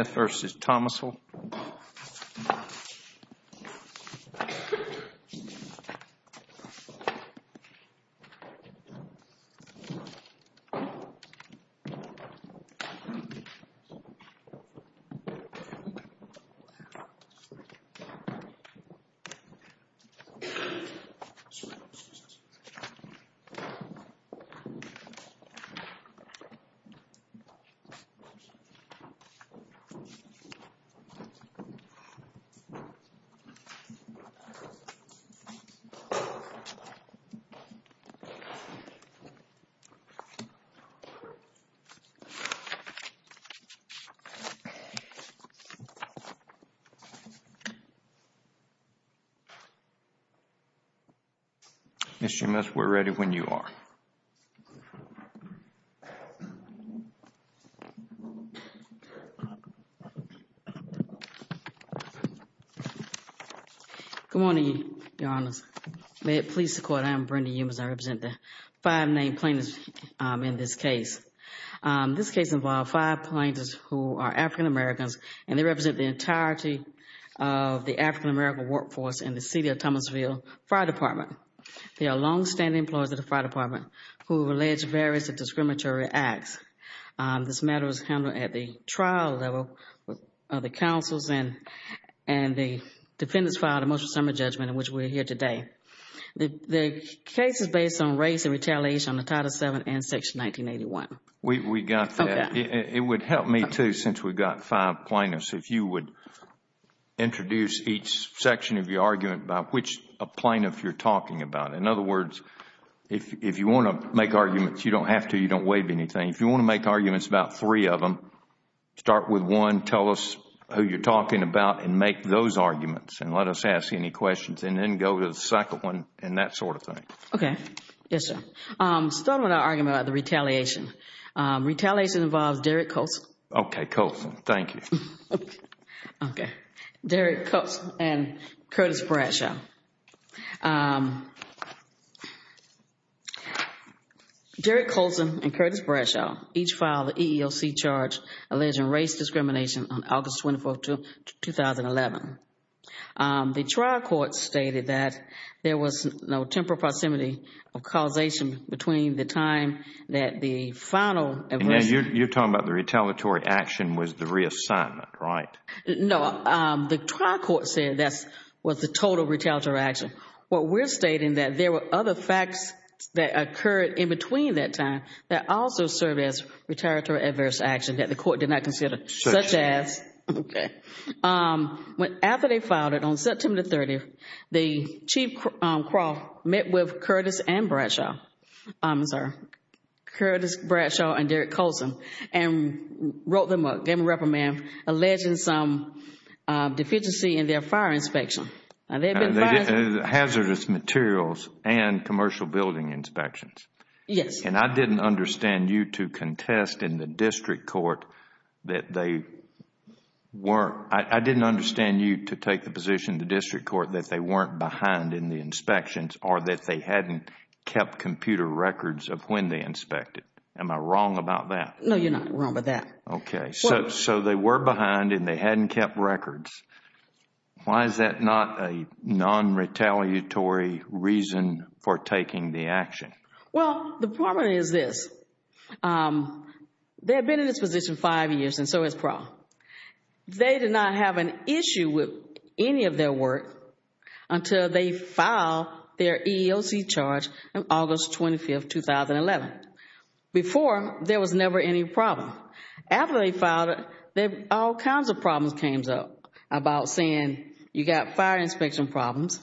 Smith v. Thomasville Mr. Smith, we're ready when you are. Good morning, Your Honors. May it please the Court, I am Brenda Eames. I represent the five named plaintiffs in this case. This case involved five plaintiffs who are African-Americans, and they represent the entirety of the African-American workforce in the city of Thomasville Fire Department. They are long-standing employees of the Fire Department who have alleged various discriminatory acts. This matter was handled at the trial level of the counsels, and the defendants filed a motion of summary judgment in which we are here today. The case is based on race and retaliation under Title VII and Section 1981. We got that. It would help me, too, since we've got five plaintiffs, if you would introduce each section of your argument about which plaintiff you're talking about. In other words, if you want to make arguments, you don't have to. You don't waive anything. If you want to make arguments about three of them, start with one. Tell us who you're talking about and make those arguments, and let us ask any questions, and then go to the second one and that sort of thing. Okay. Yes, sir. Let's start with our argument about the retaliation. Retaliation involves Derek Colson. Okay. Colson. Thank you. Okay. Derek Colson and Curtis Bradshaw. Derek Colson and Curtis Bradshaw each filed an EEOC charge alleging race discrimination on August 24, 2011. The trial court stated that there was no temporal proximity of causation between the time that the final... You're talking about the retaliatory action was the reassignment, right? No. The trial court said that was the total retaliatory action. What we're stating that there were other facts that occurred in between that time that also served as retaliatory adverse action that the court did not consider. Such as? Such as. Okay. After they filed it on September 30, the Chief Craw met with Curtis and Bradshaw, sir, Curtis Bradshaw and Derek Colson, and wrote them up, gave them a reprimand, alleging some deficiency in their fire inspection. Hazardous materials and commercial building inspections. Yes. And I didn't understand you to contest in the district court that they weren't... I didn't understand you to take the position in the district court that they weren't behind in the inspections or that they hadn't kept computer records of when they inspected. Am I wrong about that? No, you're not wrong about that. Okay. So they were behind and they hadn't kept records. Why is that not a non-retaliatory reason for taking the action? Well, the problem is this. They have been in this position five years and so has PRAW. They did not have an issue with any of their work until they filed their EEOC charge on August 25, 2011. Before, there was never any problem. After they filed it, all kinds of problems came up about saying you got fire inspection problems.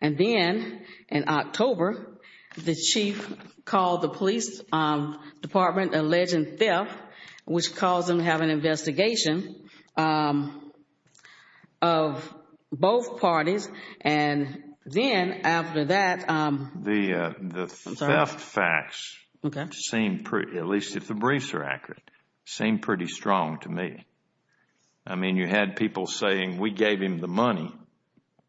And then in October, the chief called the police department, alleging theft, which caused them to have an investigation of both parties. And then after that... The theft facts seem pretty, at least if the briefs are accurate, seem pretty strong to me. I mean, you had people saying we gave him the money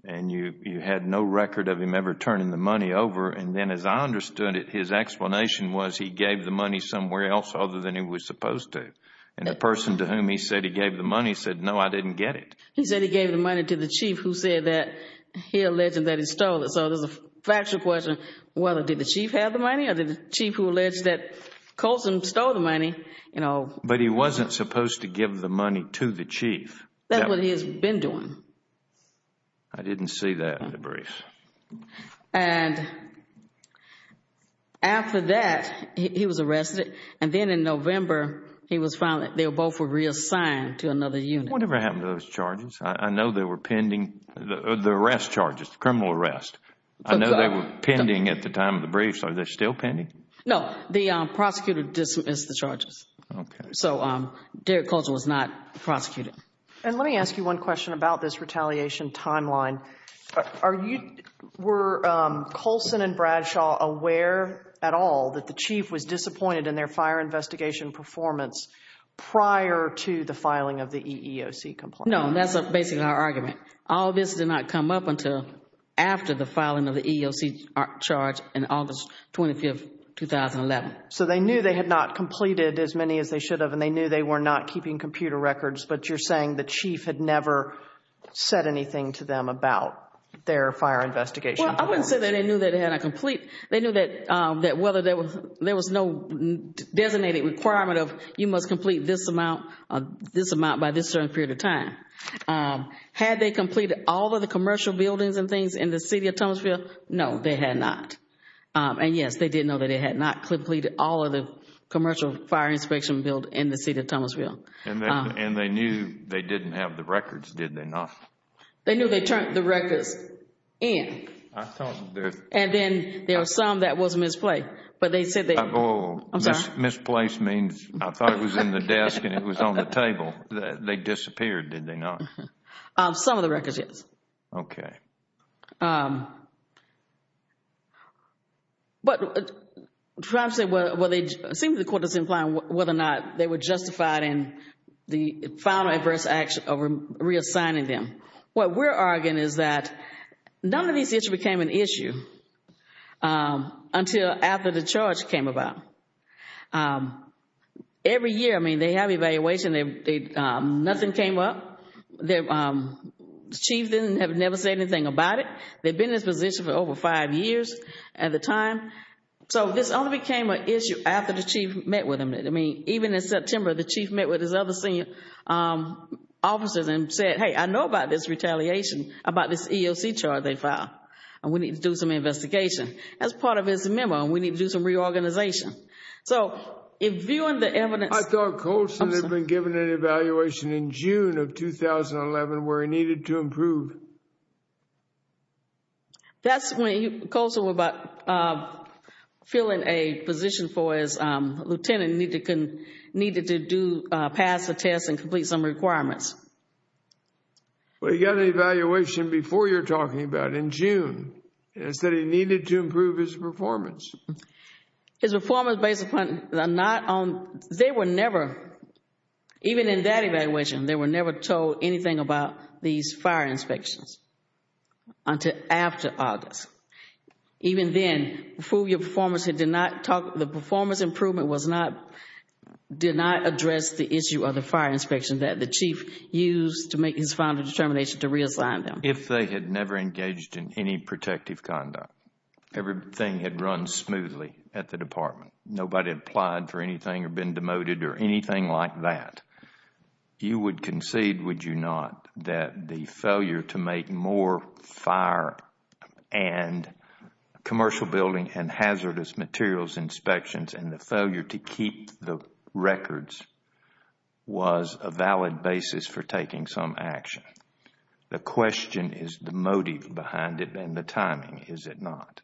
and you had no record of him ever turning the money over. And then as I understood it, his explanation was he gave the money somewhere else other than he was supposed to. And the person to whom he said he gave the money said, no, I didn't get it. He said he gave the money to the chief who said that he alleged that he stole it. So there's a factual question whether did the chief have the money or did the chief who alleged that Colson stole the money? But he wasn't supposed to give the money to the chief. That's what he has been doing. I didn't see that in the brief. And after that, he was arrested. And then in November, he was found that they both were reassigned to another unit. What ever happened to those charges? I know they were pending, the arrest charges, the criminal arrest. I know they were pending at the time of the briefs. Are they still pending? No. The prosecutor dismissed the charges. Okay. So Derek Colson was not prosecuted. And let me ask you one question about this retaliation timeline. Are you, were Colson and Bradshaw aware at all that the chief was disappointed in their fire investigation performance prior to the filing of the EEOC complaint? No. That's basically our argument. All this did not come up until after the filing of the EEOC charge on August 25, 2011. So they knew they had not completed as many as they should have, and they knew they were not keeping computer records, but you're saying the chief had never said anything to them about their fire investigation performance? Well, I wouldn't say that they knew that they had a complete, they knew that whether there was no designated requirement of you must complete this amount, this amount by this certain period of time. Had they completed all of the commercial buildings and things in the city of Thomasville? No, they had not. And, yes, they did know that they had not completed all of the commercial fire inspection build in the city of Thomasville. And they knew they didn't have the records, did they not? They knew they turned the records in. And then there was some that was misplaced, but they said they Misplaced means I thought it was in the desk and it was on the table. They disappeared, did they not? Some of the records, yes. Okay. But perhaps, well, it seems the court is implying whether or not they were justified in the final adverse action of reassigning them. What we're arguing is that none of these issues became an issue until after the charge came about. Every year, I mean, they have evaluation. Nothing came up. The chief never said anything about it. They've been in this position for over five years at the time. So this only became an issue after the chief met with them. I mean, even in September, the chief met with his other senior officers and said, Hey, I know about this retaliation, about this EOC charge they filed. And we need to do some investigation. That's part of his memo. We need to do some reorganization. So in viewing the evidence I thought Colson had been given an evaluation in June of 2011 where he needed to improve. That's when Colson was about filling a position for his lieutenant, needed to pass the test and complete some requirements. Well, he got an evaluation before you're talking about, in June. He said he needed to improve his performance. His performance based upon, they were never, even in that evaluation, they were never told anything about these fire inspections until after August. Even then, the performance improvement did not address the issue of the fire inspection that the chief used to make his final determination to reassign them. If they had never engaged in any protective conduct, everything had run smoothly at the department. Nobody had applied for anything or been demoted or anything like that. You would concede, would you not, that the failure to make more fire and commercial building and hazardous materials inspections and the failure to keep the records was a valid basis for taking some action. The question is the motive behind it and the timing, is it not?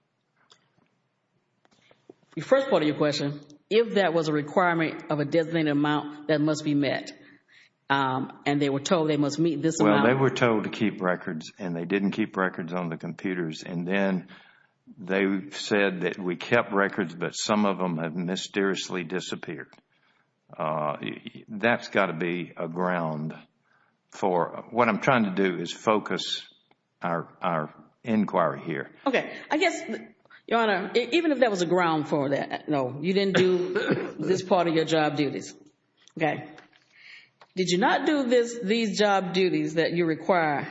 The first part of your question, if that was a requirement of a designated amount that must be met and they were told they must meet this amount. Well, they were told to keep records and they didn't keep records on the computers. Then they said that we kept records, but some of them have mysteriously disappeared. That's got to be a ground for what I'm trying to do is focus our inquiry here. Okay. I guess, Your Honor, even if that was a ground for that, no, you didn't do this part of your job duties. Okay. Did you not do these job duties that you require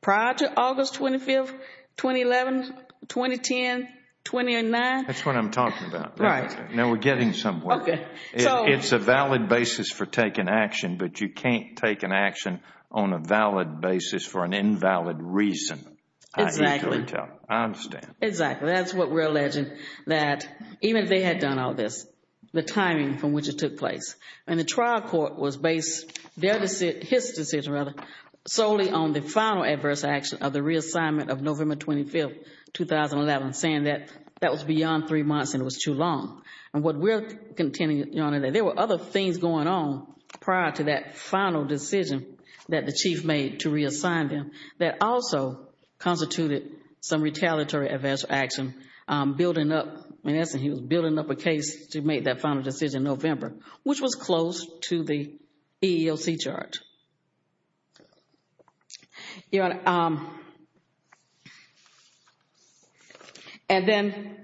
prior to August 25th, 2011, 2010, 2009? That's what I'm talking about. Right. Now we're getting somewhere. Okay. It's a valid basis for taking action, but you can't take an action on a valid basis for an invalid reason. Exactly. I understand. Exactly. That's what we're alleging, that even if they had done all this, the timing from which it took place, and the trial court was based, their decision, his decision rather, solely on the final adverse action of the reassignment of November 25th, 2011, saying that that was beyond three months and it was too long. And what we're contending, Your Honor, that there were other things going on prior to that final decision that the chief made to reassign them that also constituted some retaliatory adverse action building up. In essence, he was building up a case to make that final decision in November, which was close to the EEOC chart. Your Honor, and then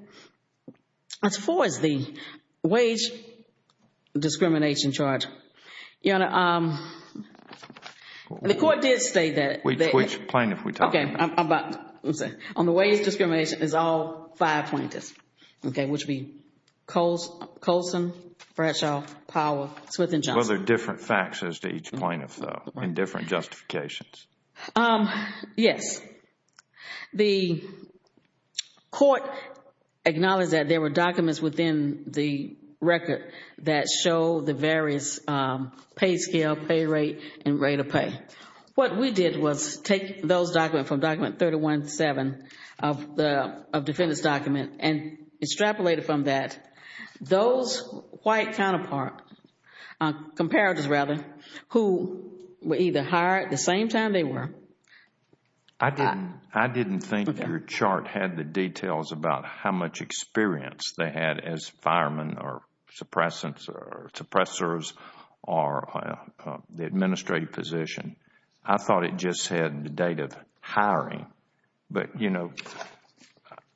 as far as the wage discrimination charge, Your Honor, the court did state that. Which plaintiff are we talking about? Okay. I'm about to say. On the wage discrimination, it's all five plaintiffs. Okay. Which would be Colson, Bradshaw, Powell, Smith and Johnson. Well, there are different facts as to each plaintiff. There are different justifications. Yes. The court acknowledged that there were documents within the record that show the various pay scale, pay rate and rate of pay. What we did was take those documents from Document 317 of the defendant's document and extrapolate it from that. Those white counterpart, comparatives rather, who were either hired at the same time they were. I didn't think your chart had the details about how much experience they had as firemen or suppressors or the administrative position. I thought it just had the date of hiring. But, you know,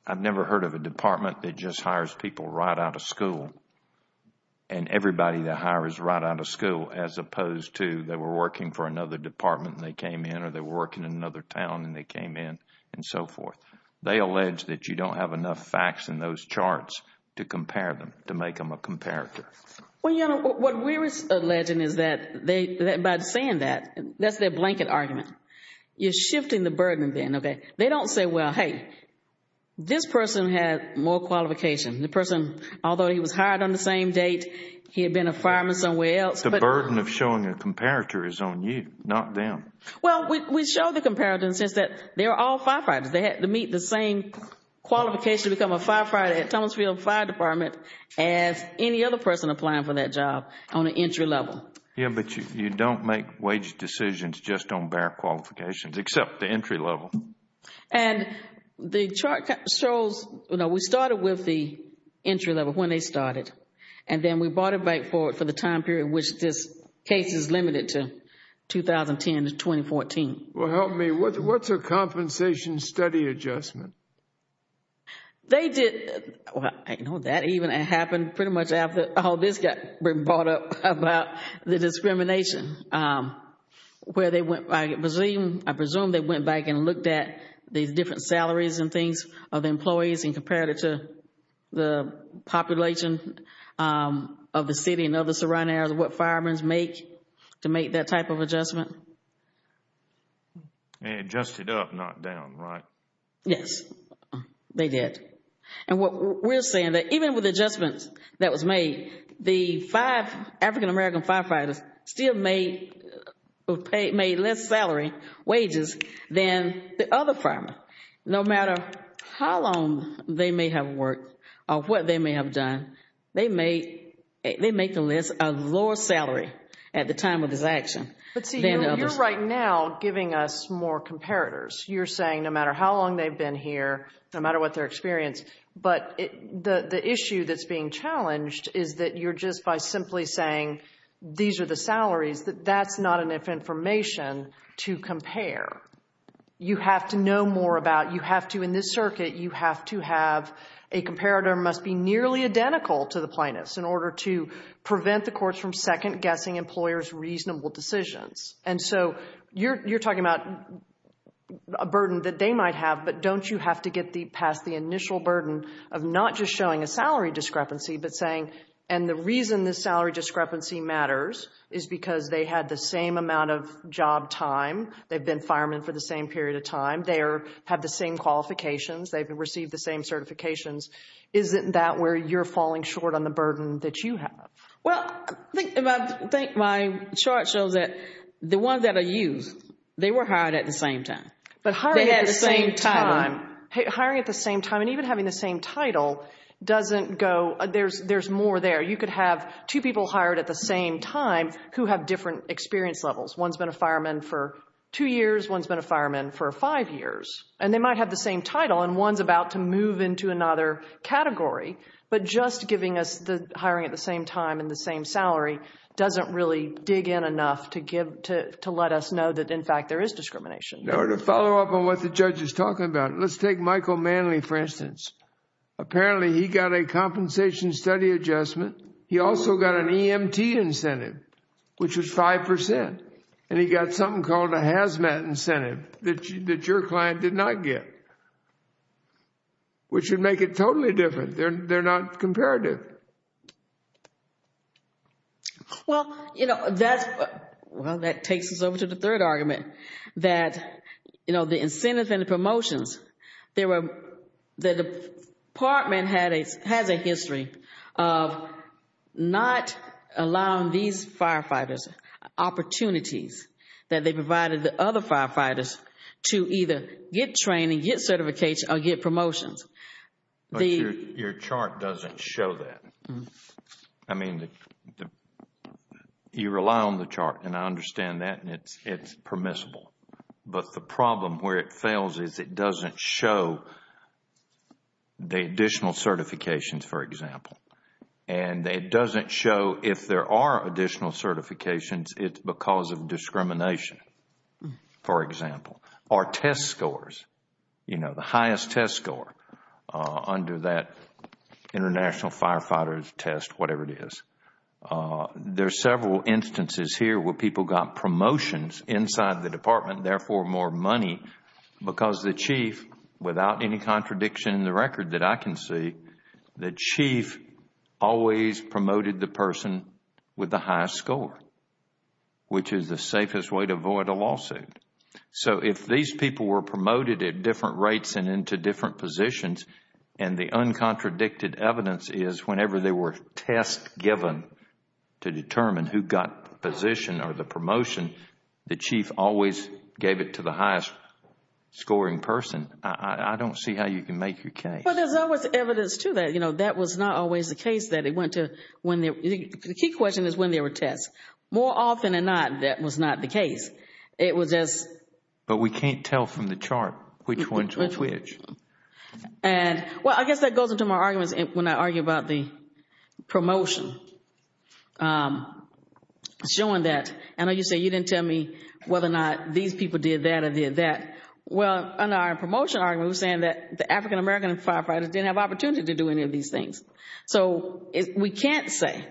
I've never heard of a department that just hires people right out of school and everybody they hire is right out of school as opposed to they were working for another department and they came in or they were working in another town and they came in and so forth. They allege that you don't have enough facts in those charts to compare them, to make them a comparator. Well, Your Honor, what we're alleging is that by saying that, that's their blanket argument. You're shifting the burden then, okay? They don't say, well, hey, this person had more qualification. The person, although he was hired on the same date, he had been a fireman somewhere else. The burden of showing a comparator is on you, not them. Well, we show the comparator in the sense that they're all firefighters. They had to meet the same qualification to become a firefighter at Tunnels Field Fire Department as any other person applying for that job on an entry level. Yeah, but you don't make wage decisions just on bare qualifications except the entry level. And the chart shows, you know, we started with the entry level when they started and then we brought it back for the time period which this case is limited to 2010 to 2014. Well, help me. What's a compensation study adjustment? They did. Well, I know that even happened pretty much after all this got brought up about the discrimination. I presume they went back and looked at these different salaries and things of employees and compared it to the population of the city and other surrounding areas, what firemen make to make that type of adjustment. And adjusted up, not down, right? Yes, they did. And what we're saying that even with adjustments that was made, the five African-American firefighters still made less salary wages than the other firemen. No matter how long they may have worked or what they may have done, they make the list a lower salary at the time of this action than others. But see, you're right now giving us more comparators. You're saying no matter how long they've been here, no matter what their experience, but the issue that's being challenged is that you're just by simply saying these are the salaries, that that's not enough information to compare. You have to know more about, you have to, in this circuit, you have to have a comparator must be nearly identical to the plaintiffs in order to prevent the courts from second-guessing employers' reasonable decisions. And so you're talking about a burden that they might have, but don't you have to get past the initial burden of not just showing a salary discrepancy, but saying, and the reason this salary discrepancy matters is because they had the same amount of job time, they've been firemen for the same period of time, they have the same qualifications, they've received the same certifications. Isn't that where you're falling short on the burden that you have? Well, I think my chart shows that the ones that are used, they were hired at the same time. They had the same time. Hiring at the same time and even having the same title doesn't go, there's more there. You could have two people hired at the same time who have different experience levels. One's been a fireman for two years, one's been a fireman for five years, and they might have the same title and one's about to move into another category, but just giving us the hiring at the same time and the same salary doesn't really dig in enough to let us know that, in fact, there is discrimination. In order to follow up on what the judge is talking about, let's take Michael Manley, for instance. Apparently, he got a compensation study adjustment. He also got an EMT incentive, which was 5%, and he got something called a hazmat incentive that your client did not get, which would make it totally different. They're not comparative. Well, that takes us over to the third argument, that the incentives and the promotions, the department has a history of not allowing these firefighters opportunities that they provided to other firefighters to either get training, get certification, or get promotions. Your chart doesn't show that. I mean, you rely on the chart, and I understand that, and it's permissible. But the problem where it fails is it doesn't show the additional certifications, for example. It doesn't show if there are additional certifications, it's because of discrimination, for example, or test scores, the highest test score under that international firefighter's test, whatever it is. There are several instances here where people got promotions inside the department, therefore more money because the chief, without any contradiction in the record that I can see, the chief always promoted the person with the highest score, which is the safest way to avoid a lawsuit. So if these people were promoted at different rates and into different positions, and the uncontradicted evidence is whenever there were tests given to determine who got the position or the promotion, the chief always gave it to the highest scoring person. I don't see how you can make your case. Well, there's always evidence to that. That was not always the case. The key question is when there were tests. More often than not, that was not the case. But we can't tell from the chart which one's which. Well, I guess that goes into my arguments when I argue about the promotion, showing that. I know you say you didn't tell me whether or not these people did that or did that. Well, in our promotion argument, we're saying that the African-American firefighters didn't have the opportunity to do any of these things. So we can't say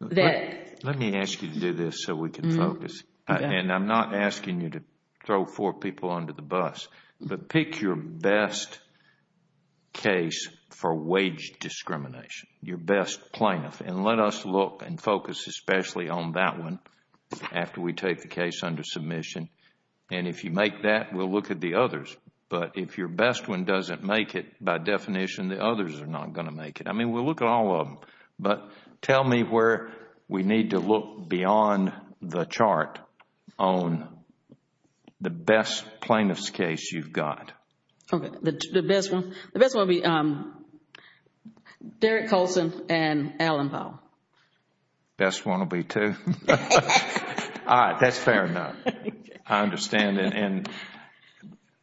that. Let me ask you to do this so we can focus. And I'm not asking you to throw four people under the bus. But pick your best case for wage discrimination, your best plaintiff. And let us look and focus especially on that one after we take the case under submission. And if you make that, we'll look at the others. But if your best one doesn't make it, by definition, the others are not going to make it. I mean, we'll look at all of them. But tell me where we need to look beyond the chart on the best plaintiff's case you've got. Okay. The best one? The best one would be Derek Colson and Alan Powell. Best one will be two. All right. That's fair enough. I understand. And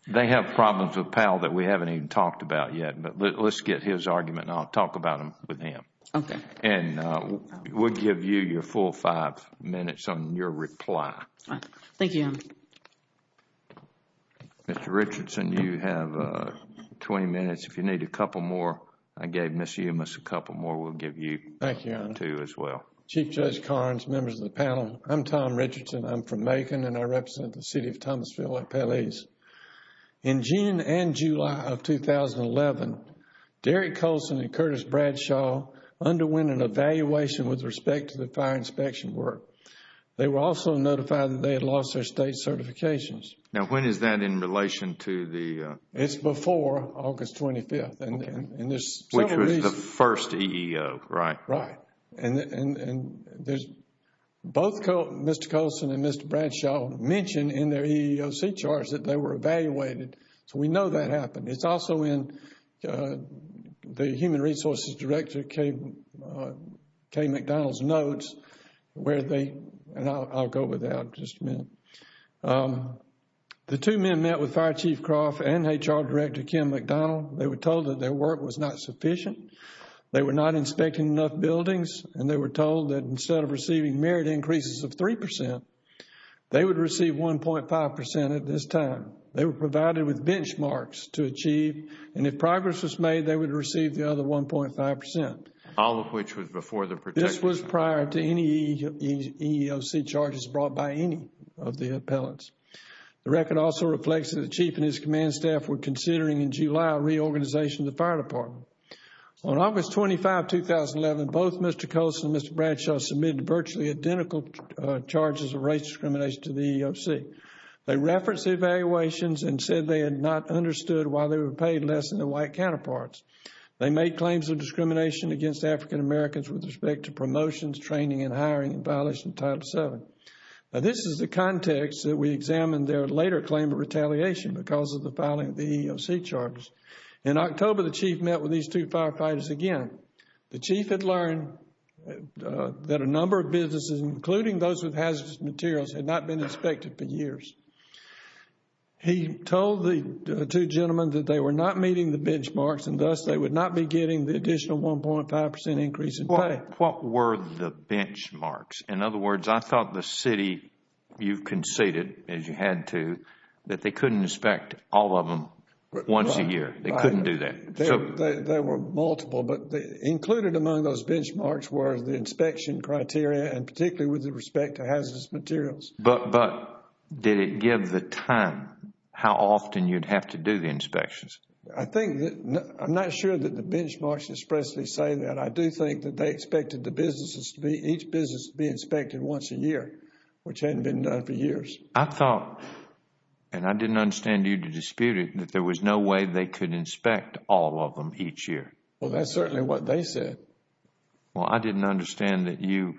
they have problems with Powell that we haven't even talked about yet. But let's get his argument and I'll talk about them with him. Okay. And we'll give you your full five minutes on your reply. Thank you, Your Honor. Mr. Richardson, you have 20 minutes. If you need a couple more, I gave Ms. Umas a couple more. We'll give you two as well. Thank you, Your Honor. Chief Judge Carnes, members of the panel, I'm Tom Richardson. I'm from Macon and I represent the City of Thomasville at Pelez. In June and July of 2011, Derek Colson and Curtis Bradshaw underwent an evaluation with respect to the fire inspection work. They were also notified that they had lost their state certifications. Now, when is that in relation to the? It's before August 25th. Okay. Which was the first EEO, right? Right. And there's both Mr. Colson and Mr. Bradshaw mentioned in their EEOC charts that they were evaluated. So we know that happened. It's also in the Human Resources Director Kay McDonald's notes where they, and I'll go with that in just a minute. The two men met with Fire Chief Croft and HR Director Kim McDonald. They were told that their work was not sufficient. They were not inspecting enough buildings and they were told that instead of receiving merit increases of 3%, they would receive 1.5% at this time. They were provided with benchmarks to achieve and if progress was made, they would receive the other 1.5%. All of which was before the protection. This was prior to any EEOC charges brought by any of the appellants. The record also reflects that the Chief and his command staff were considering in July reorganization of the Fire Department. On August 25, 2011, both Mr. Colson and Mr. Bradshaw submitted virtually identical charges of racial discrimination to the EEOC. They referenced the evaluations and said they had not understood why they were paid less than their white counterparts. They made claims of discrimination against African Americans with respect to promotions, training, and hiring in violation of Title VII. This is the context that we examined their later claim of retaliation because of the filing of the EEOC charges. In October, the Chief met with these two firefighters again. The Chief had learned that a number of businesses, including those with hazardous materials, had not been inspected for years. He told the two gentlemen that they were not meeting the benchmarks and thus they would not be getting the additional 1.5% increase in pay. What were the benchmarks? In other words, I thought the city, you conceded, as you had to, that they couldn't inspect all of them once a year. They couldn't do that. There were multiple, but included among those benchmarks were the inspection criteria and particularly with respect to hazardous materials. But did it give the time how often you'd have to do the inspections? I'm not sure that the benchmarks expressly say that. I do think that they expected each business to be inspected once a year, which hadn't been done for years. I thought, and I didn't understand you to dispute it, that there was no way they could inspect all of them each year. Well, that's certainly what they said. Well, I didn't understand that you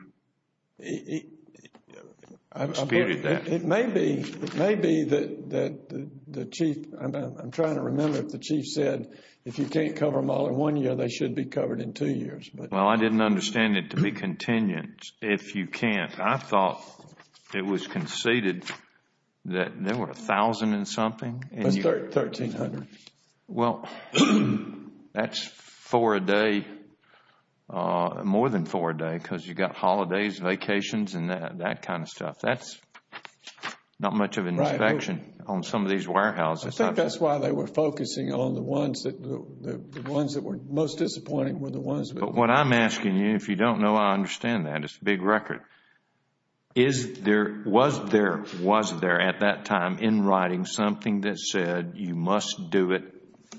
disputed that. It may be that the chief, I'm trying to remember if the chief said if you can't cover them all in one year, they should be covered in two years. Well, I didn't understand it to be contingent if you can't. I thought it was conceded that there were 1,000 and something. That's 1,300. Well, that's four a day, more than four a day, because you've got holidays, vacations, and that kind of stuff. That's not much of an inspection on some of these warehouses. I think that's why they were focusing on the ones that were most disappointing were the ones. But what I'm asking you, if you don't know, I understand that. It's a big record. Was there at that time in writing something that said you must do it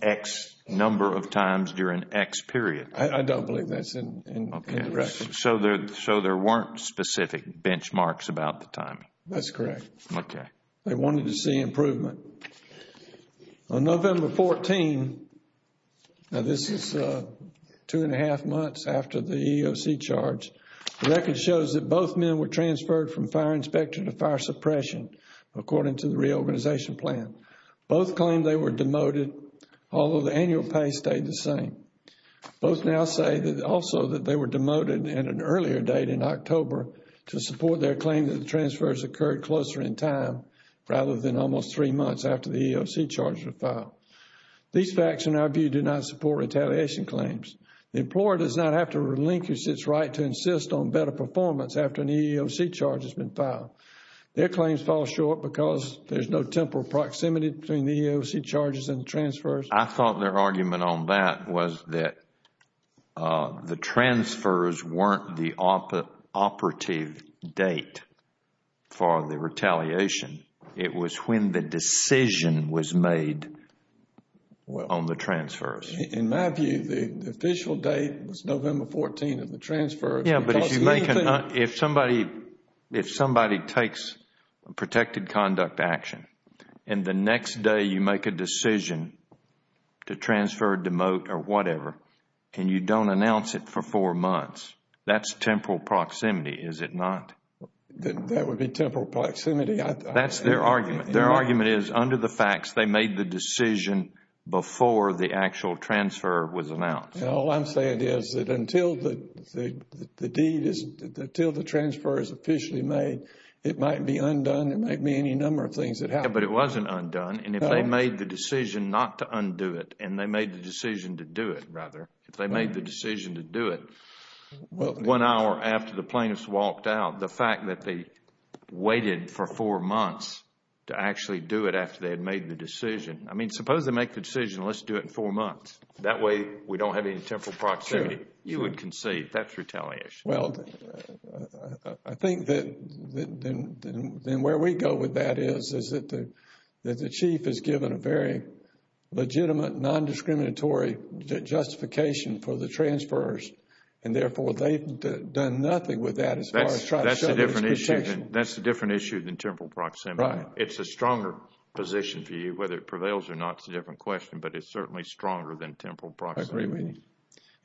X number of times during X period? I don't believe that's in the record. So there weren't specific benchmarks about the timing? That's correct. Okay. They wanted to see improvement. On November 14, now this is two and a half months after the EEOC charge, the record shows that both men were transferred from fire inspector to fire suppression, according to the reorganization plan. Both claimed they were demoted, although the annual pay stayed the same. Both now say also that they were demoted at an earlier date in October to support their claim that the transfers occurred closer in time rather than almost three months after the EEOC charges were filed. These facts, in our view, do not support retaliation claims. The employer does not have to relinquish its right to insist on better performance after an EEOC charge has been filed. Their claims fall short because there's no temporal proximity between the EEOC charges and transfers. I thought their argument on that was that the transfers weren't the operative date for the retaliation. It was when the decision was made on the transfers. In my view, the official date was November 14 of the transfers. If somebody takes protected conduct action and the next day you make a decision to transfer, demote, or whatever, and you don't announce it for four months, that's temporal proximity, is it not? That would be temporal proximity. That's their argument. Their argument is under the facts, they made the decision before the actual transfer was announced. All I'm saying is that until the deed is, until the transfer is officially made, it might be undone. It might be any number of things that happen. But it wasn't undone. And if they made the decision not to undo it and they made the decision to do it, rather, if they made the decision to do it one hour after the plaintiffs walked out, the fact that they waited for four months to actually do it after they had made the decision. I mean, suppose they make the decision, let's do it in four months. That way we don't have any temporal proximity. You would concede. That's retaliation. Well, I think that where we go with that is that the chief is given a very legitimate, non-discriminatory justification for the transfers. And, therefore, they've done nothing with that as far as trying to show there's protection. That's a different issue than temporal proximity. Right. It's a stronger position for you, whether it prevails or not is a different question. But it's certainly stronger than temporal proximity. I agree with you.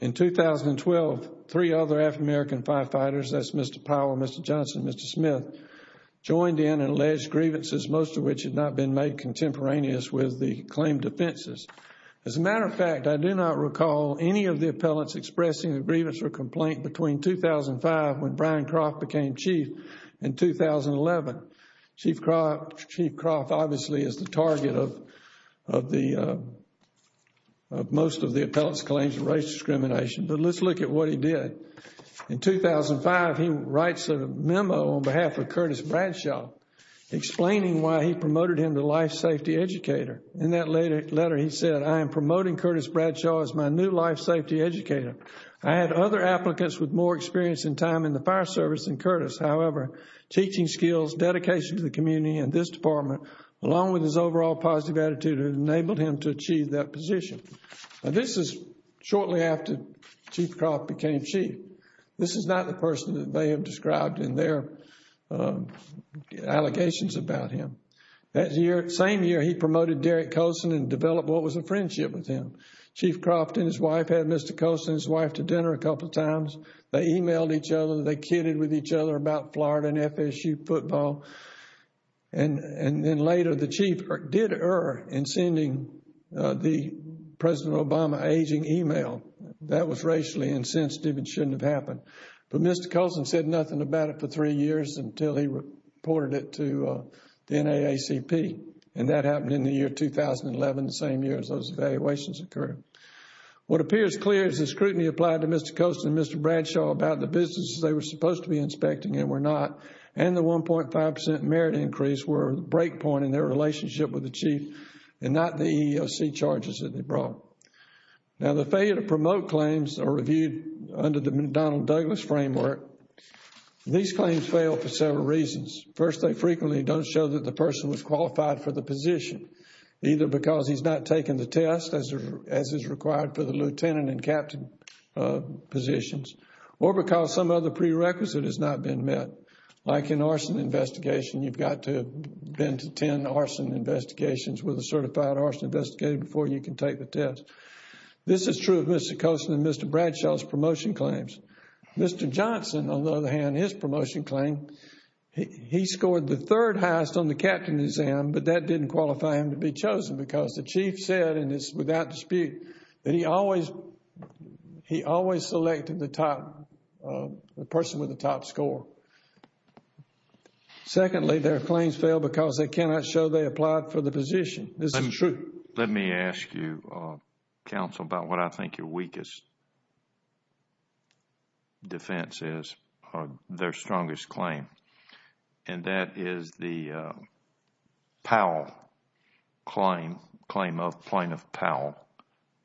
In 2012, three other African-American firefighters, that's Mr. Powell, Mr. Johnson, Mr. Smith, joined in and alleged grievances, most of which had not been made contemporaneous with the claimed offenses. As a matter of fact, I do not recall any of the appellants expressing a grievance or complaint between 2005 when Brian Croft became chief and 2011. Chief Croft obviously is the target of most of the appellants' claims of racial discrimination. But let's look at what he did. In 2005, he writes a memo on behalf of Curtis Bradshaw explaining why he promoted him to life safety educator. In that letter, he said, I am promoting Curtis Bradshaw as my new life safety educator. I had other applicants with more experience and time in the fire service than Curtis. However, teaching skills, dedication to the community, and this department, along with his overall positive attitude, have enabled him to achieve that position. Now, this is shortly after Chief Croft became chief. This is not the person that they have described in their allegations about him. That year, same year, he promoted Derek Colson and developed what was a friendship with him. Chief Croft and his wife had Mr. Colson and his wife to dinner a couple of times. They emailed each other. They kidded with each other about Florida and FSU football. And then later, the chief did err in sending the President Obama aging email. That was racially insensitive and shouldn't have happened. But Mr. Colson said nothing about it for three years until he reported it to the NAACP. And that happened in the year 2011, the same year as those evaluations occurred. What appears clear is the scrutiny applied to Mr. Colson and Mr. Bradshaw about the businesses they were supposed to be inspecting and were not, and the 1.5 percent merit increase were a break point in their relationship with the chief and not the EEOC charges that they brought. Now, the failure to promote claims reviewed under the McDonnell Douglas framework, these claims fail for several reasons. First, they frequently don't show that the person was qualified for the position, either because he's not taken the test as is required for the lieutenant and captain positions, or because some other prerequisite has not been met. Like an arson investigation, you've got to have been to ten arson investigations with a certified arson investigator before you can take the test. This is true of Mr. Colson and Mr. Bradshaw's promotion claims. Mr. Johnson, on the other hand, his promotion claim, he scored the third highest on the captain exam, but that didn't qualify him to be chosen because the chief said, and it's without dispute, that he always selected the person with the top score. Secondly, their claims fail because they cannot show they applied for the position. This is true. Let me ask you, counsel, about what I think your weakest defense is, or their strongest claim, and that is the Powell claim, claim of plaintiff Powell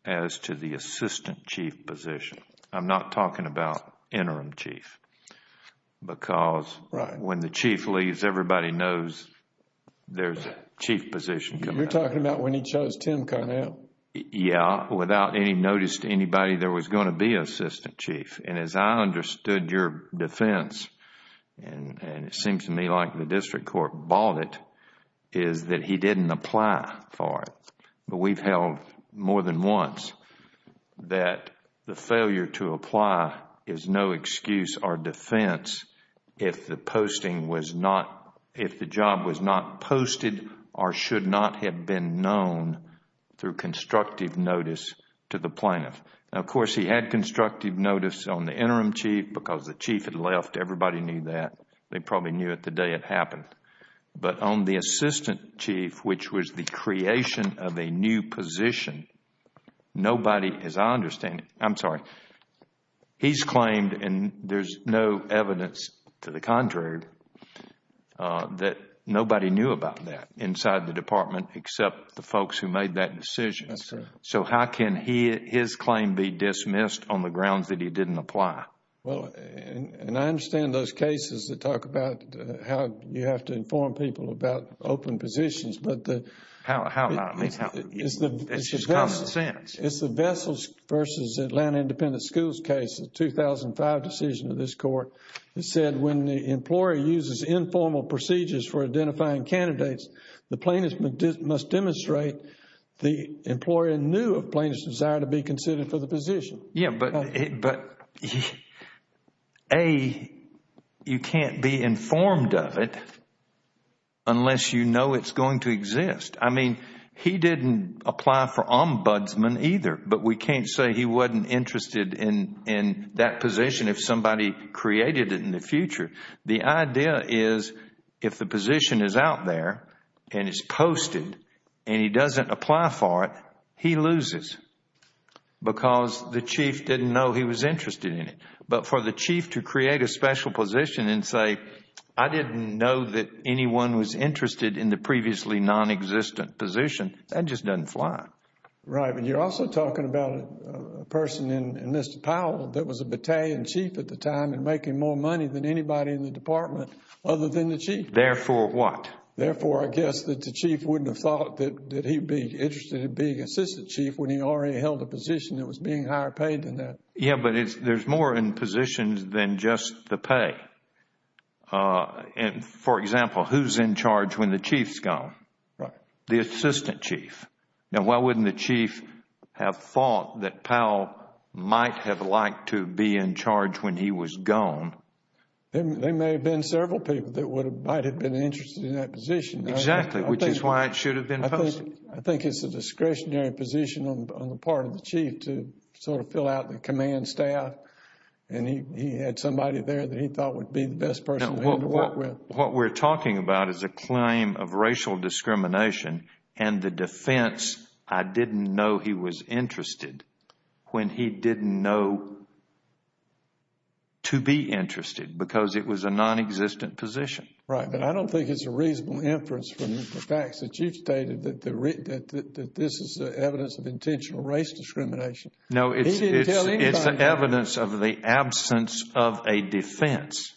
as to the assistant chief position. I'm not talking about interim chief because when the chief leaves, everybody knows there's a chief position. You're talking about when he chose Tim Carnell. Yeah, without any notice to anybody, there was going to be an assistant chief. As I understood your defense, and it seems to me like the district court bought it, is that he didn't apply for it. We've held more than once that the failure to apply is no excuse or defense if the job was not posted or should not have been known through constructive notice to the plaintiff. Now, of course, he had constructive notice on the interim chief because the chief had left. Everybody knew that. They probably knew it the day it happened. But on the assistant chief, which was the creation of a new position, nobody, as I understand it, I'm sorry, he's claimed and there's no evidence to the contrary that nobody knew about that inside the department except the folks who made that decision. So how can his claim be dismissed on the grounds that he didn't apply? Well, and I understand those cases that talk about how you have to inform people about open positions. How? It's just common sense. It's the Vessels versus Atlanta Independent Schools case, the 2005 decision of this court. It said when the employer uses informal procedures for identifying candidates, the plaintiff must demonstrate the employer knew of plaintiff's desire to be considered for the position. Yeah, but A, you can't be informed of it unless you know it's going to exist. I mean, he didn't apply for ombudsman either, but we can't say he wasn't interested in that position if somebody created it in the future. The idea is if the position is out there and it's posted and he doesn't apply for it, he loses because the chief didn't know he was interested in it. But for the chief to create a special position and say, I didn't know that anyone was interested in the previously non-existent position, that just doesn't fly. Right, but you're also talking about a person in Mr. Powell that was a battalion chief at the time and making more money than anybody in the department other than the chief. Therefore what? Therefore, I guess, that the chief wouldn't have thought that he'd be interested in being assistant chief when he already held a position that was being higher paid than that. Yeah, but there's more in positions than just the pay. For example, who's in charge when the chief's gone? Right. The assistant chief. Now, why wouldn't the chief have thought that Powell might have liked to be in charge when he was gone? There may have been several people that might have been interested in that position. Exactly, which is why it should have been posted. I think it's a discretionary position on the part of the chief to sort of fill out the command staff and he had somebody there that he thought would be the best person for him to work with. What we're talking about is a claim of racial discrimination and the defense, I didn't know he was interested when he didn't know to be interested because it was a non-existent position. Right, but I don't think it's a reasonable inference from the facts that you've stated that this is evidence of intentional race discrimination. No, it's evidence of the absence of a defense.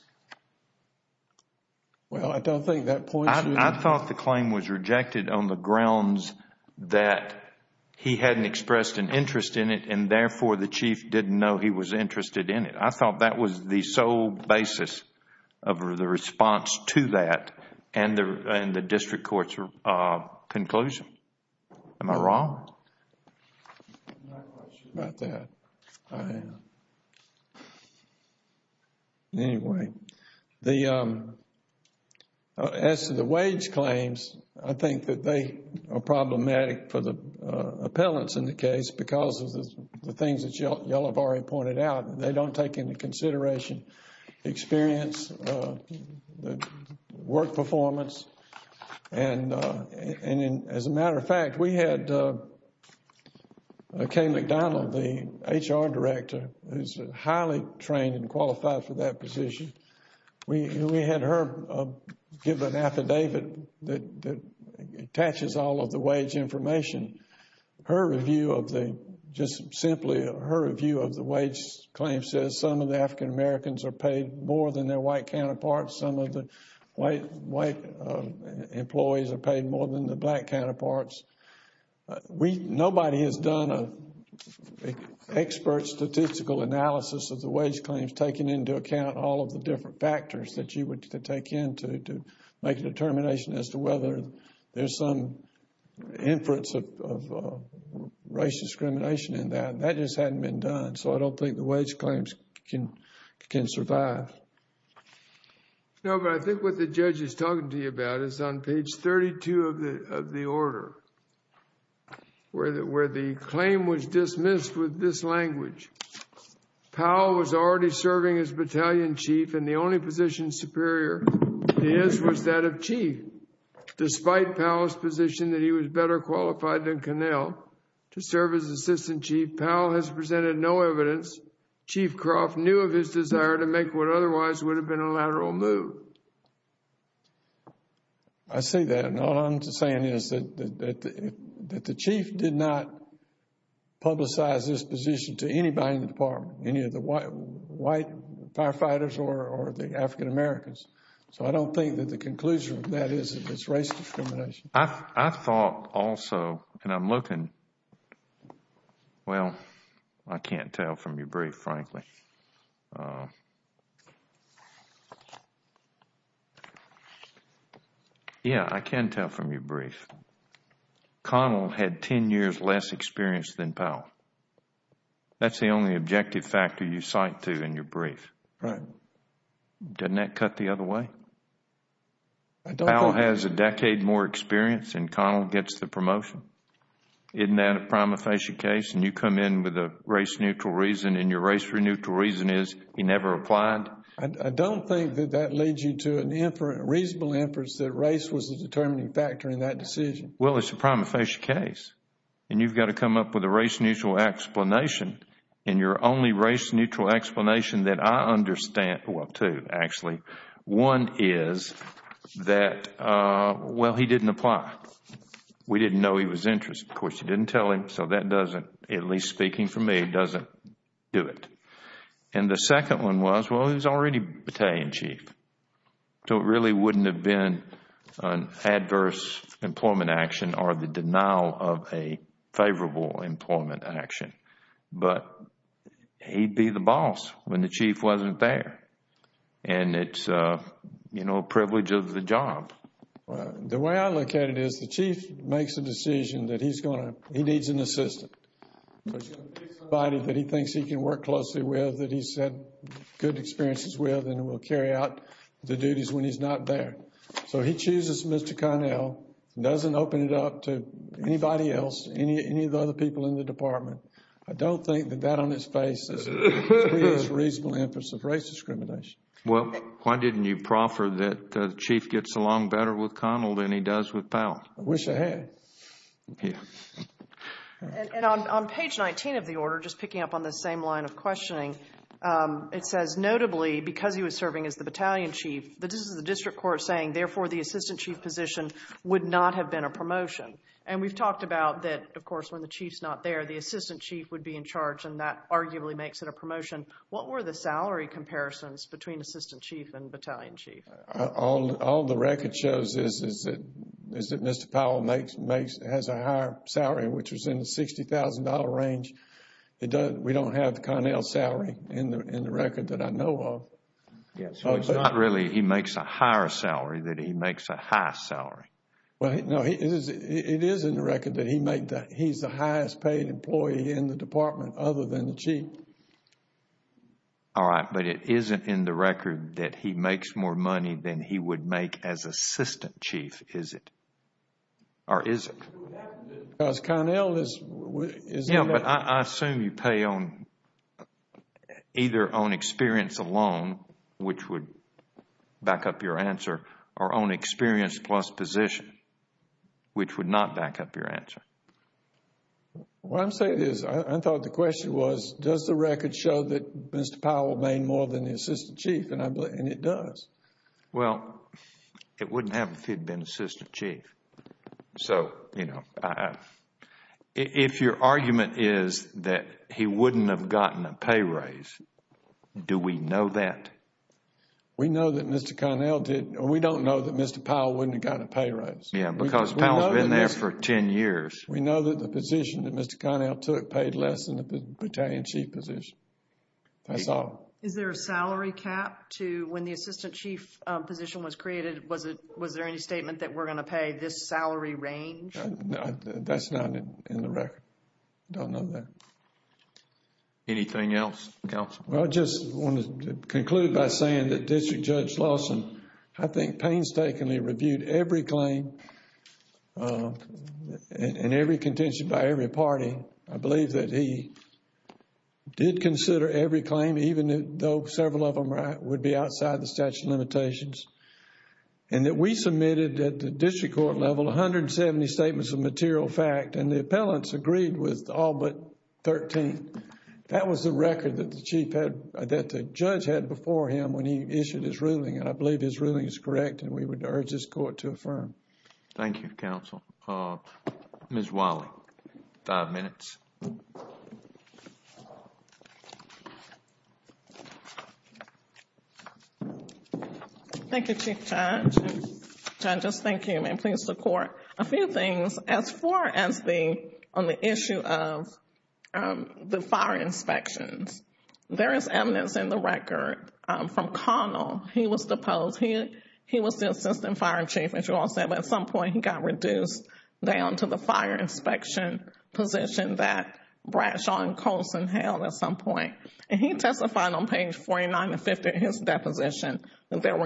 Well, I don't think that points to... I thought the claim was rejected on the grounds that he hadn't expressed an interest in it and therefore the chief didn't know he was interested in it. I thought that was the sole basis of the response to that and the district court's conclusion. Am I wrong? I'm not quite sure about that. I am. Anyway, as to the wage claims, I think that they are problematic for the appellants in the case because of the things that you all have already pointed out. They don't take into consideration experience, work performance, and as a matter of fact, we had Kay McDonald, the HR director, who's highly trained and qualified for that position. We had her give an affidavit that attaches all of the wage information. Her review of the, just simply, her review of the wage claim says some of the African Americans are paid more than their white counterparts. Some of the white employees are paid more than the black counterparts. Nobody has done an expert statistical analysis of the wage claims taking into account all of the different factors that you would take into to make a determination as to whether there's some inference of race discrimination in that. That just hadn't been done, so I don't think the wage claims can survive. No, but I think what the judge is talking to you about is on page 32 of the order where the claim was dismissed with this language. Powell was already serving as battalion chief and the only position superior to his was that of chief. Powell, to serve as assistant chief, Powell has presented no evidence Chief Croft knew of his desire to make what otherwise would have been a lateral move. I see that, and all I'm saying is that the chief did not publicize this position to anybody in the department, any of the white firefighters or the African Americans. So I don't think that the conclusion of that is that it's race discrimination. I thought also, and I'm looking, well, I can't tell from your brief, frankly. Yeah, I can tell from your brief. Connell had 10 years less experience than Powell. That's the only objective factor you cite to in your brief. Right. Doesn't that cut the other way? Powell has a decade more experience, and Connell gets the promotion. Isn't that a prima facie case? And you come in with a race-neutral reason, and your race-neutral reason is he never applied? I don't think that that leads you to a reasonable inference that race was the determining factor in that decision. Well, it's a prima facie case, and you've got to come up with a race-neutral explanation. And your only race-neutral explanation that I understand, well, two actually. One is that, well, he didn't apply. We didn't know he was interested. Of course, you didn't tell him, so that doesn't, at least speaking for me, doesn't do it. And the second one was, well, he was already Battalion Chief. So it really wouldn't have been an adverse employment action or the denial of a favorable employment action, but he'd be the boss when the chief wasn't there. And it's, you know, a privilege of the job. The way I look at it is the chief makes a decision that he's going to, he needs an assistant. He's going to pick somebody that he thinks he can work closely with, that he's had good experiences with, and will carry out the duties when he's not there. So he chooses Mr. Connell, doesn't open it up to anybody else, any of the other people in the department. I don't think that that on its face creates reasonable efforts of race discrimination. Well, why didn't you proffer that the chief gets along better with Connell than he does with Powell? I wish I had. And on page 19 of the order, just picking up on the same line of questioning, it says, notably, because he was serving as the Battalion Chief, this is the district court saying, therefore, the assistant chief position would not have been a promotion. And we've talked about that, of course, when the chief's not there, the assistant chief would be in charge, and that arguably makes it a promotion. What were the salary comparisons between assistant chief and battalion chief? All the record shows is that Mr. Powell has a higher salary, which is in the $60,000 range. We don't have Connell's salary in the record that I know of. Yeah, so it's not really he makes a higher salary that he makes a high salary. Well, no, it is in the record that he's the highest paid employee in the department other than the chief. All right, but it isn't in the record that he makes more money than he would make as assistant chief, is it? Or is it? Because Connell is— Yeah, but I assume you pay either on experience alone, which would back up your answer, or on experience plus position, which would not back up your answer. What I'm saying is, I thought the question was, does the record show that Mr. Powell made more than the assistant chief? And it does. Well, it wouldn't have if he'd been assistant chief. So, you know, if your argument is that he wouldn't have gotten a pay raise, do we know that? We know that Mr. Connell did—we don't know that Mr. Powell wouldn't have gotten a pay raise. Yeah, because Powell's been there for 10 years. We know that the position that Mr. Connell took paid less than the battalion chief position. That's all. Is there a salary cap to when the assistant chief position was created? Was there any statement that we're going to pay this salary range? That's not in the record. Don't know that. Anything else, counsel? Well, I just wanted to conclude by saying that District Judge Lawson, I think, painstakingly reviewed every claim and every contention by every party. I believe that he did consider every claim even though several of them would be outside the statute of limitations and that we submitted at the district court level 170 statements of material fact and the appellants agreed with all but 13. That was the record that the judge had before him when he issued his ruling and I believe his ruling is correct and we would urge this court to affirm. Thank you, counsel. Ms. Wiley, five minutes. Thank you, Chief Judge. I just thank him and please support. A few things. As far as the issue of the fire inspections, there is evidence in the record from Connell. He was deposed. He was the assistant fire chief, as you all said, but at some point he got reduced down to the fire inspection position that Bradshaw and Colson held at some point. He testified on page 49 and 50 of his deposition that there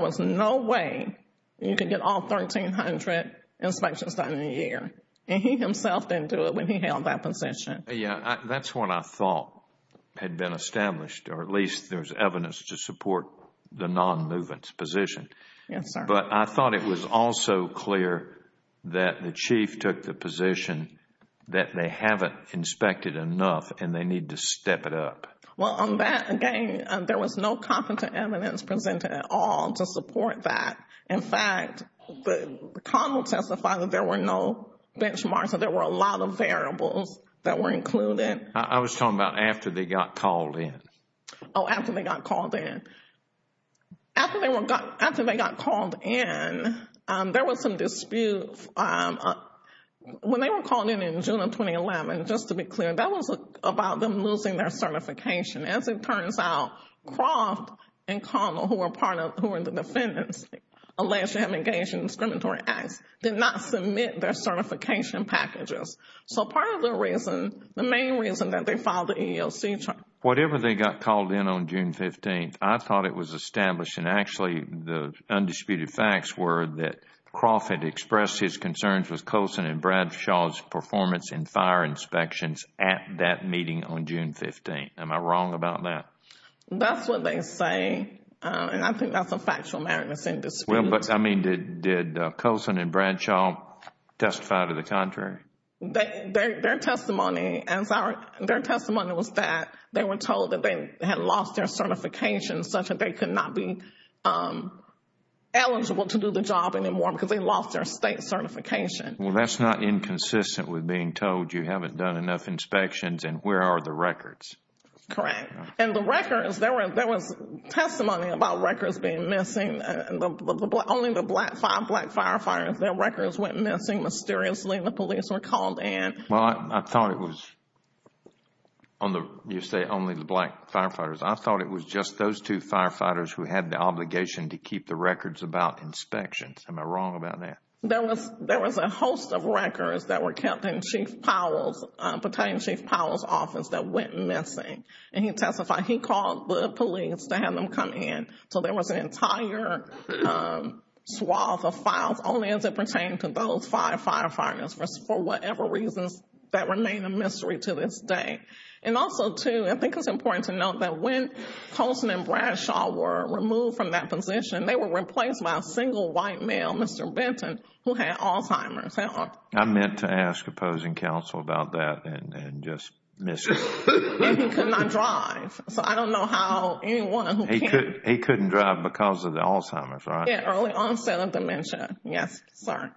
was no way you could get all 1,300 inspections done in a year. He himself didn't do it when he held that position. That's what I thought had been established or at least there's evidence to support the non-movement position. Yes, sir. But I thought it was also clear that the chief took the position that they haven't inspected enough and they need to step it up. Well, on that, again, there was no competent evidence presented at all to support that. In fact, Connell testified that there were no benchmarks, that there were a lot of variables that were included. I was talking about after they got called in. Oh, after they got called in. After they got called in, there was some dispute. When they were called in in June of 2011, just to be clear, that was about them losing their certification. As it turns out, Croft and Connell, who were the defendants alleged to have engaged in discriminatory acts, did not submit their certification packages. So part of the reason, the main reason that they filed the EEOC charge. Whatever they got called in on June 15th, I thought it was established, and actually the undisputed facts were that Croft had expressed his concerns with Colson and Bradshaw's performance in fire inspections at that meeting on June 15th. Am I wrong about that? That's what they say, and I think that's a factual matter that's in dispute. I mean, did Colson and Bradshaw testify to the contrary? Their testimony was that they were told that they had lost their certification, such that they could not be eligible to do the job anymore because they lost their state certification. Well, that's not inconsistent with being told you haven't done enough inspections, and where are the records? Correct. And the records, there was testimony about records being missing. Only the five black firefighters, their records went missing mysteriously, and the police were called in. Well, I thought it was, you say only the black firefighters. I thought it was just those two firefighters who had the obligation to keep the records about inspections. Am I wrong about that? There was a host of records that were kept in Chief Powell's, Battalion Chief Powell's office that went missing, and he testified. He called the police to have them come in. So there was an entire swath of files only as it pertained to those five firefighters, for whatever reasons that remain a mystery to this day. And also, too, I think it's important to note that when Colson and Bradshaw were removed from that position, they were replaced by a single white male, Mr. Benton, who had Alzheimer's. I meant to ask opposing counsel about that and just missed it. And he could not drive. So I don't know how anyone who can. He couldn't drive because of the Alzheimer's, right? Early onset of dementia, yes, sir.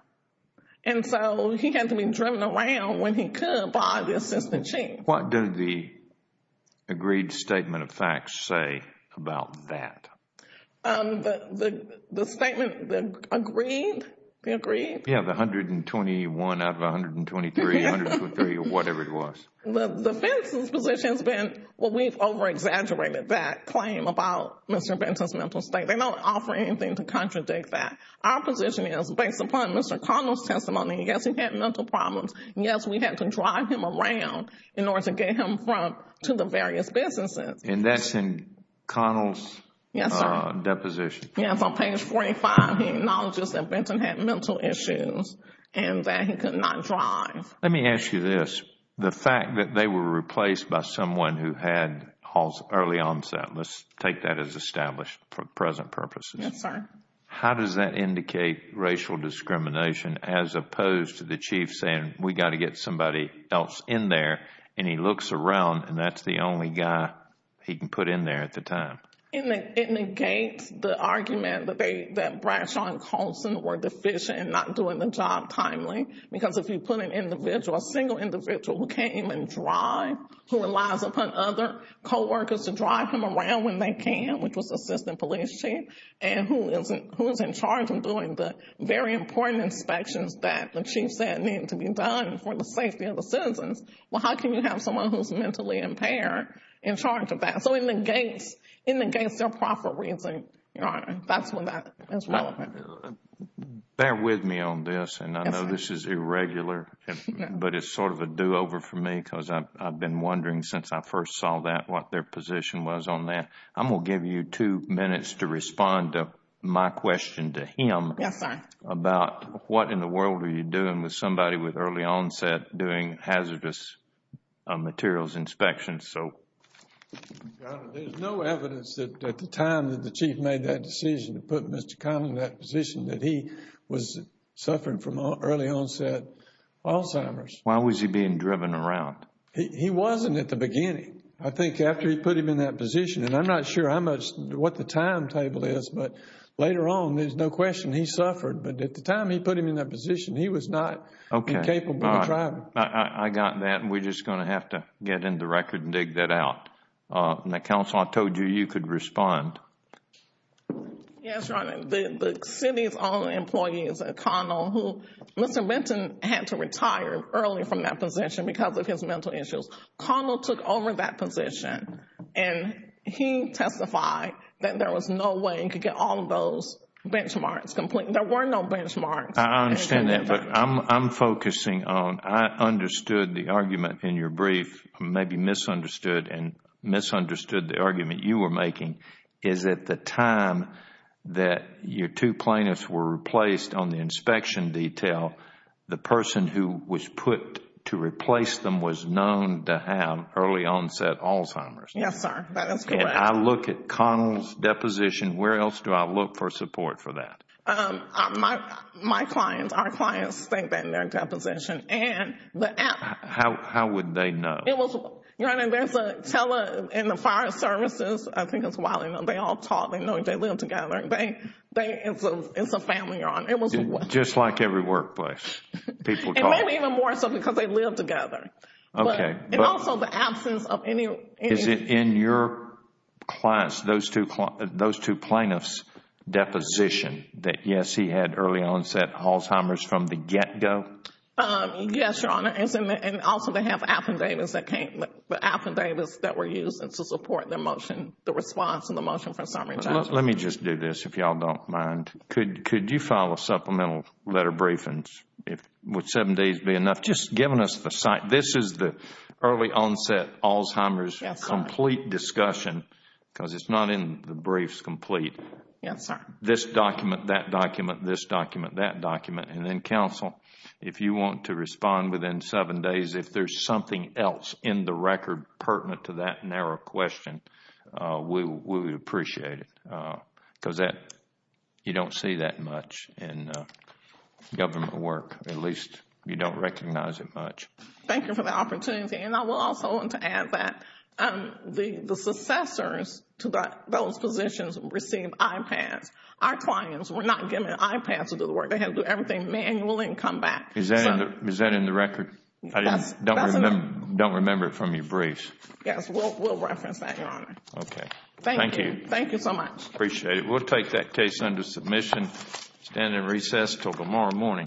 And so he had to be driven around when he could by the assistant chief. What did the agreed statement of facts say about that? The statement, the agreed? The agreed? Yeah, the 121 out of 123 or whatever it was. The Benson's position has been, well, we've over-exaggerated that claim about Mr. Benton's mental state. They don't offer anything to contradict that. Our position is, based upon Mr. Connell's testimony, yes, he had mental problems. Yes, we had to drive him around in order to get him to the various businesses. And that's in Connell's? Yes, sir. Deposition. Yes, on page 45 he acknowledges that Benton had mental issues and that he could not drive. Let me ask you this. The fact that they were replaced by someone who had early onset, let's take that as established for present purposes. Yes, sir. How does that indicate racial discrimination as opposed to the chief saying we've got to get somebody else in there and he looks around and that's the only guy he can put in there at the time? It negates the argument that Bradshaw and Colson were deficient in not doing the job timely. Because if you put an individual, a single individual, who can't even drive, who relies upon other co-workers to drive him around when they can, which was the assistant police chief, and who's in charge of doing the very important inspections that the chief said needed to be done for the safety of the citizens, well, how can you have someone who's mentally impaired in charge of that? So it negates their proper reason, Your Honor. That's when that is relevant. Bear with me on this, and I know this is irregular, but it's sort of a do-over for me because I've been wondering since I first saw that what their position was on that. I'm going to give you two minutes to respond to my question to him about what in the world are you doing with somebody with early onset doing hazardous materials inspections. Your Honor, there's no evidence at the time that the chief made that decision to put Mr. Conlon in that position that he was suffering from early onset Alzheimer's. Why was he being driven around? He wasn't at the beginning. I think after he put him in that position, and I'm not sure how much, what the timetable is, but later on there's no question he suffered. But at the time he put him in that position, he was not incapable of driving. I got that. We're just going to have to get into the record and dig that out. Counsel, I told you you could respond. Yes, Your Honor. The city's own employee is Conlon. Mr. Benton had to retire early from that position because of his mental issues. Conlon took over that position, and he testified that there was no way he could get all of those benchmarks. There were no benchmarks. I understand that, but I'm focusing on I understood the argument in your brief, maybe misunderstood and misunderstood the argument you were making, is at the time that your two plaintiffs were replaced on the inspection detail, the person who was put to replace them was known to have early onset Alzheimer's. Yes, sir. That is correct. I look at Conlon's deposition. Where else do I look for support for that? My clients, our clients state that in their deposition. How would they know? Your Honor, there's a tele and the fire services. I think it's wild. They all talk. They know they live together. It's a family, Your Honor. Just like every workplace, people talk. Maybe even more so because they live together. Okay. Also, the absence of any Is it in your clients, those two plaintiffs' deposition that, yes, he had early onset Alzheimer's from the get-go? Yes, Your Honor. Also, they have affidavits that came, affidavits that were used to support the response and the motion for summary judgment. Let me just do this, if you all don't mind. Could you file a supplemental letter of briefings? Would seven days be enough? I've just given us the site. This is the early onset Alzheimer's complete discussion because it's not in the briefs complete. Yes, sir. This document, that document, this document, that document. Then, counsel, if you want to respond within seven days, if there's something else in the record pertinent to that narrow question, we would appreciate it because you don't see that much in government work. At least, you don't recognize it much. Thank you for the opportunity. I will also want to add that the successors to those positions received iPads. Our clients were not given iPads to do the work. They had to do everything manually and come back. Is that in the record? I don't remember it from your briefs. Yes, we'll reference that, Your Honor. Okay. Thank you. Thank you so much. Appreciate it. Okay. We'll take that case under submission. Stand in recess until tomorrow morning. All rise.